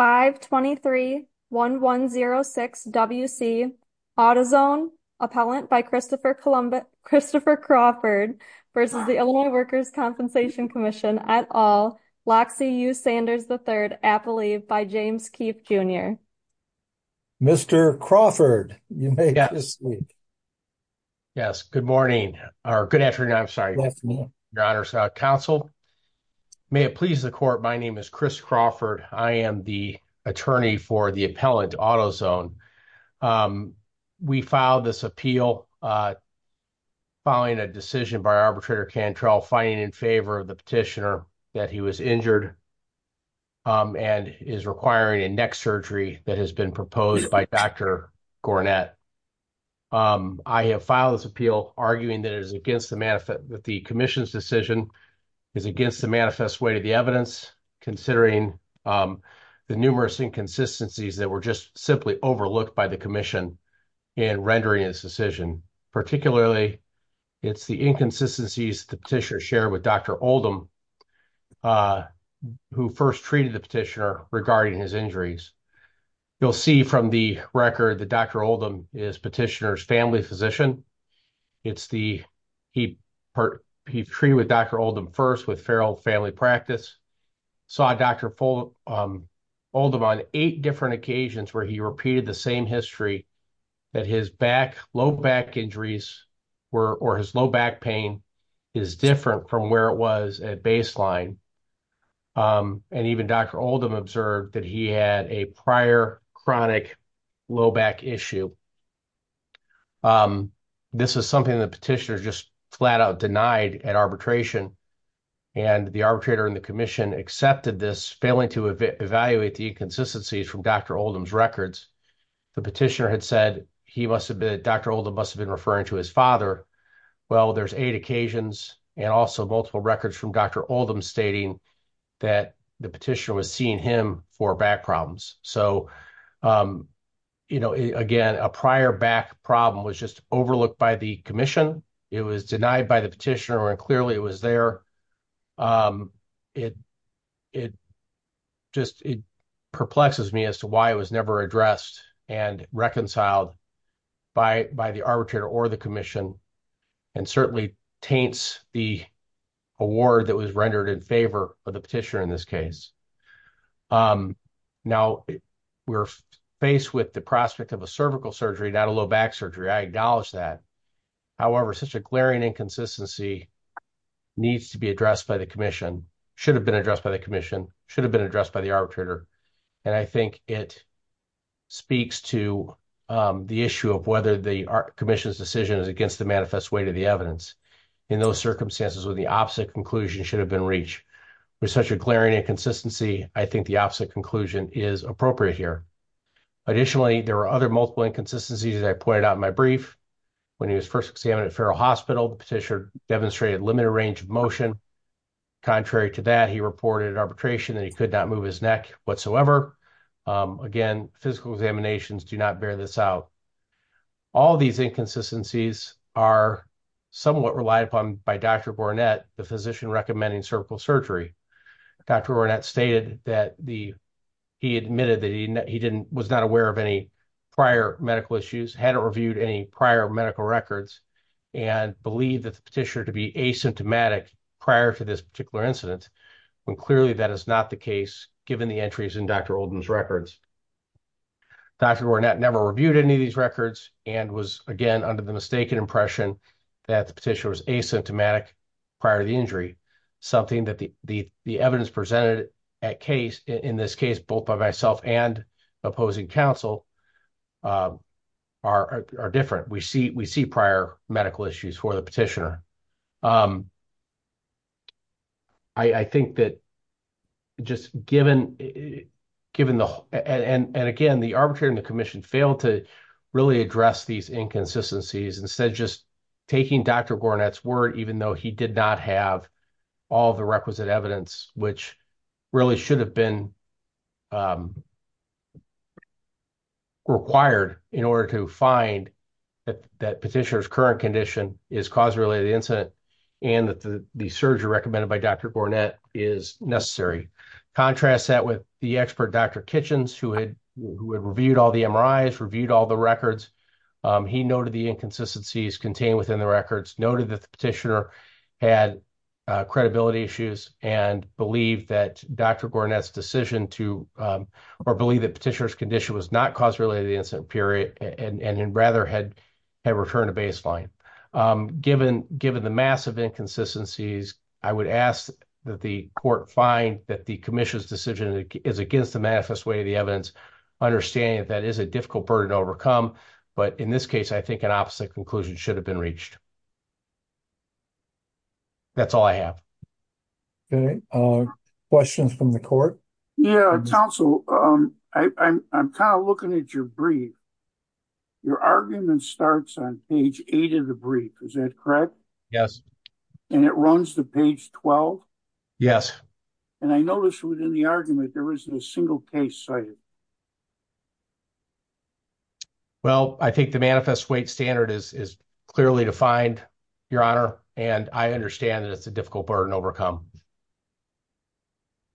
523-1106 W.C. Autozone, appellant by Christopher Crawford v. Illinois Workers' Compensation Comm'n, et al., Loxie U. Sanders III, appellee by James Keefe, Jr. Mr. Crawford, you may be seated. Yes, good morning, or good afternoon, I'm sorry. Good afternoon. Your Honor, Counsel, may it please the Court, my name is Chris Crawford. I am the attorney for the appellant, Autozone. We filed this appeal following a decision by Arbitrator Cantrell finding in favor of the petitioner that he was injured and is requiring a neck surgery that has been proposed by Dr. Gornett. I have filed this appeal arguing that the Commission's decision is against the manifest way of the evidence, considering the numerous inconsistencies that were just simply overlooked by the Commission in rendering its decision. Particularly, it's the inconsistencies the petitioner shared with Dr. Oldham, who first treated the petitioner regarding his injuries. You'll see from the record that Dr. Oldham is petitioner's family physician. He treated with Dr. Oldham first with feral family practice, saw Dr. Oldham on eight different occasions where he repeated the same history, that his low back injuries or his low back pain is different from where it was at baseline. And even Dr. Oldham observed that he had a prior chronic low back issue. This is something the petitioner just flat out denied at arbitration, and the arbitrator and the Commission accepted this, failing to evaluate the inconsistencies from Dr. Oldham's records. The petitioner had said he must have been, Dr. Oldham must have been referring to his father. Well, there's eight occasions and also multiple records from Dr. Oldham stating that the petitioner was seeing him for back problems. So, you know, again, a prior back problem was just overlooked by the Commission. It was denied by the petitioner, and clearly it was there. It just perplexes me as to why it was never addressed and reconciled by the arbitrator or the Commission. And certainly taints the award that was rendered in favor of the petitioner in this case. Now, we're faced with the prospect of a cervical surgery, not a low back surgery, I acknowledge that. However, such a glaring inconsistency needs to be addressed by the Commission, should have been addressed by the Commission, should have been addressed by the arbitrator. And I think it speaks to the issue of whether the Commission's decision is against the manifest weight of the evidence. In those circumstances where the opposite conclusion should have been reached. With such a glaring inconsistency, I think the opposite conclusion is appropriate here. Additionally, there are other multiple inconsistencies that I pointed out in my brief. When he was first examined at Farrell Hospital, the petitioner demonstrated limited range of motion. Contrary to that, he reported arbitration and he could not move his neck whatsoever. Again, physical examinations do not bear this out. All these inconsistencies are somewhat relied upon by Dr. Boronet, the physician recommending cervical surgery. Dr. Boronet stated that he admitted that he was not aware of any prior medical issues, hadn't reviewed any prior medical records, and believed that the petitioner to be asymptomatic prior to this particular incident. When clearly that is not the case, given the entries in Dr. Olden's records. Dr. Boronet never reviewed any of these records and was again under the mistaken impression that the petitioner was asymptomatic prior to the injury. Something that the evidence presented in this case, both by myself and opposing counsel, are different. We see prior medical issues for the petitioner. I think that just given the, and again, the arbitrator and the commission failed to really address these inconsistencies. Instead, just taking Dr. Boronet's word, even though he did not have all the requisite evidence, which really should have been required in order to find that petitioner's current condition is cause-related incident, and that the surgery recommended by Dr. Boronet is necessary. Contrast that with the expert, Dr. Kitchens, who had reviewed all the MRIs, reviewed all the records. He noted the inconsistencies contained within the records, noted that the petitioner had credibility issues, believed that Dr. Boronet's decision to, or believed that petitioner's condition was not cause-related incident period, and rather had returned to baseline. Given the massive inconsistencies, I would ask that the court find that the commission's decision is against the manifest way of the evidence, understanding that that is a difficult burden to overcome. But in this case, I think an opposite conclusion should have been reached. That's all I have. Okay, questions from the court? Yeah, counsel, I'm kind of looking at your brief. Your argument starts on page eight of the brief, is that correct? Yes. And it runs to page 12? Yes. And I noticed within the argument, there isn't a single case cited. Okay. Well, I think the manifest weight standard is clearly defined, Your Honor, and I understand that it's a difficult burden to overcome.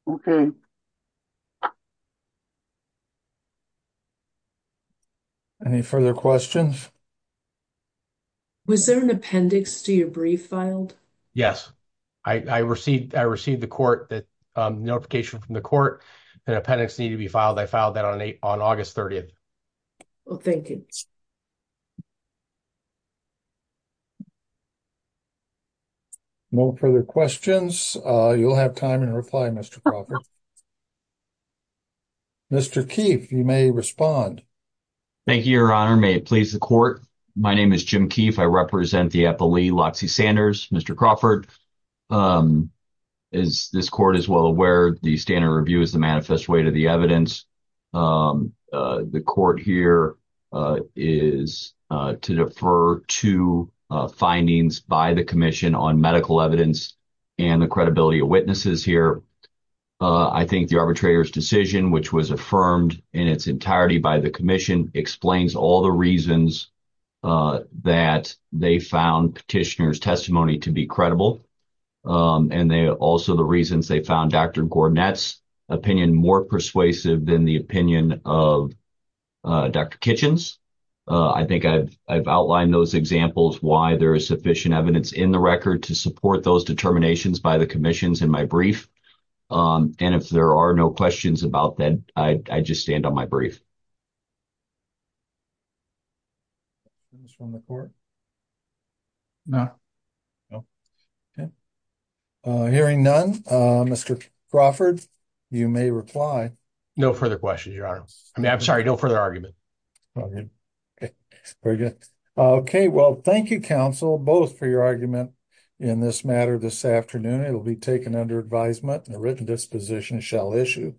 Okay. Any further questions? Was there an appendix to your brief filed? Yes. I received the notification from the court that an appendix needed to be filed. I filed that on August 30th. Well, thank you. No further questions. You'll have time to reply, Mr. Crawford. Mr. Keefe, you may respond. Thank you, Your Honor. May it please the court. My name is Jim Keefe. I represent the appellee, Loxie Sanders. Mr. Crawford, as this court is well aware, the standard review is the manifest weight of the evidence. The court here is to defer to findings by the commission on medical evidence and the credibility of witnesses here. I think the arbitrator's decision, which was affirmed in its entirety by the commission, explains all the reasons that they found petitioner's testimony to be credible. And also the reasons they found Dr. Gornet's opinion more persuasive than the opinion of Dr. Kitchens. I think I've outlined those examples why there is sufficient evidence in the record to support those determinations by the commissions in my brief. And if there are no questions about that, I just stand on my brief. Hearing none, Mr. Crawford, you may reply. No further questions, Your Honor. I'm sorry, no further argument. Very good. Well, thank you, counsel, both for your argument in this matter this afternoon. It will be taken under advisement, and a written disposition shall issue.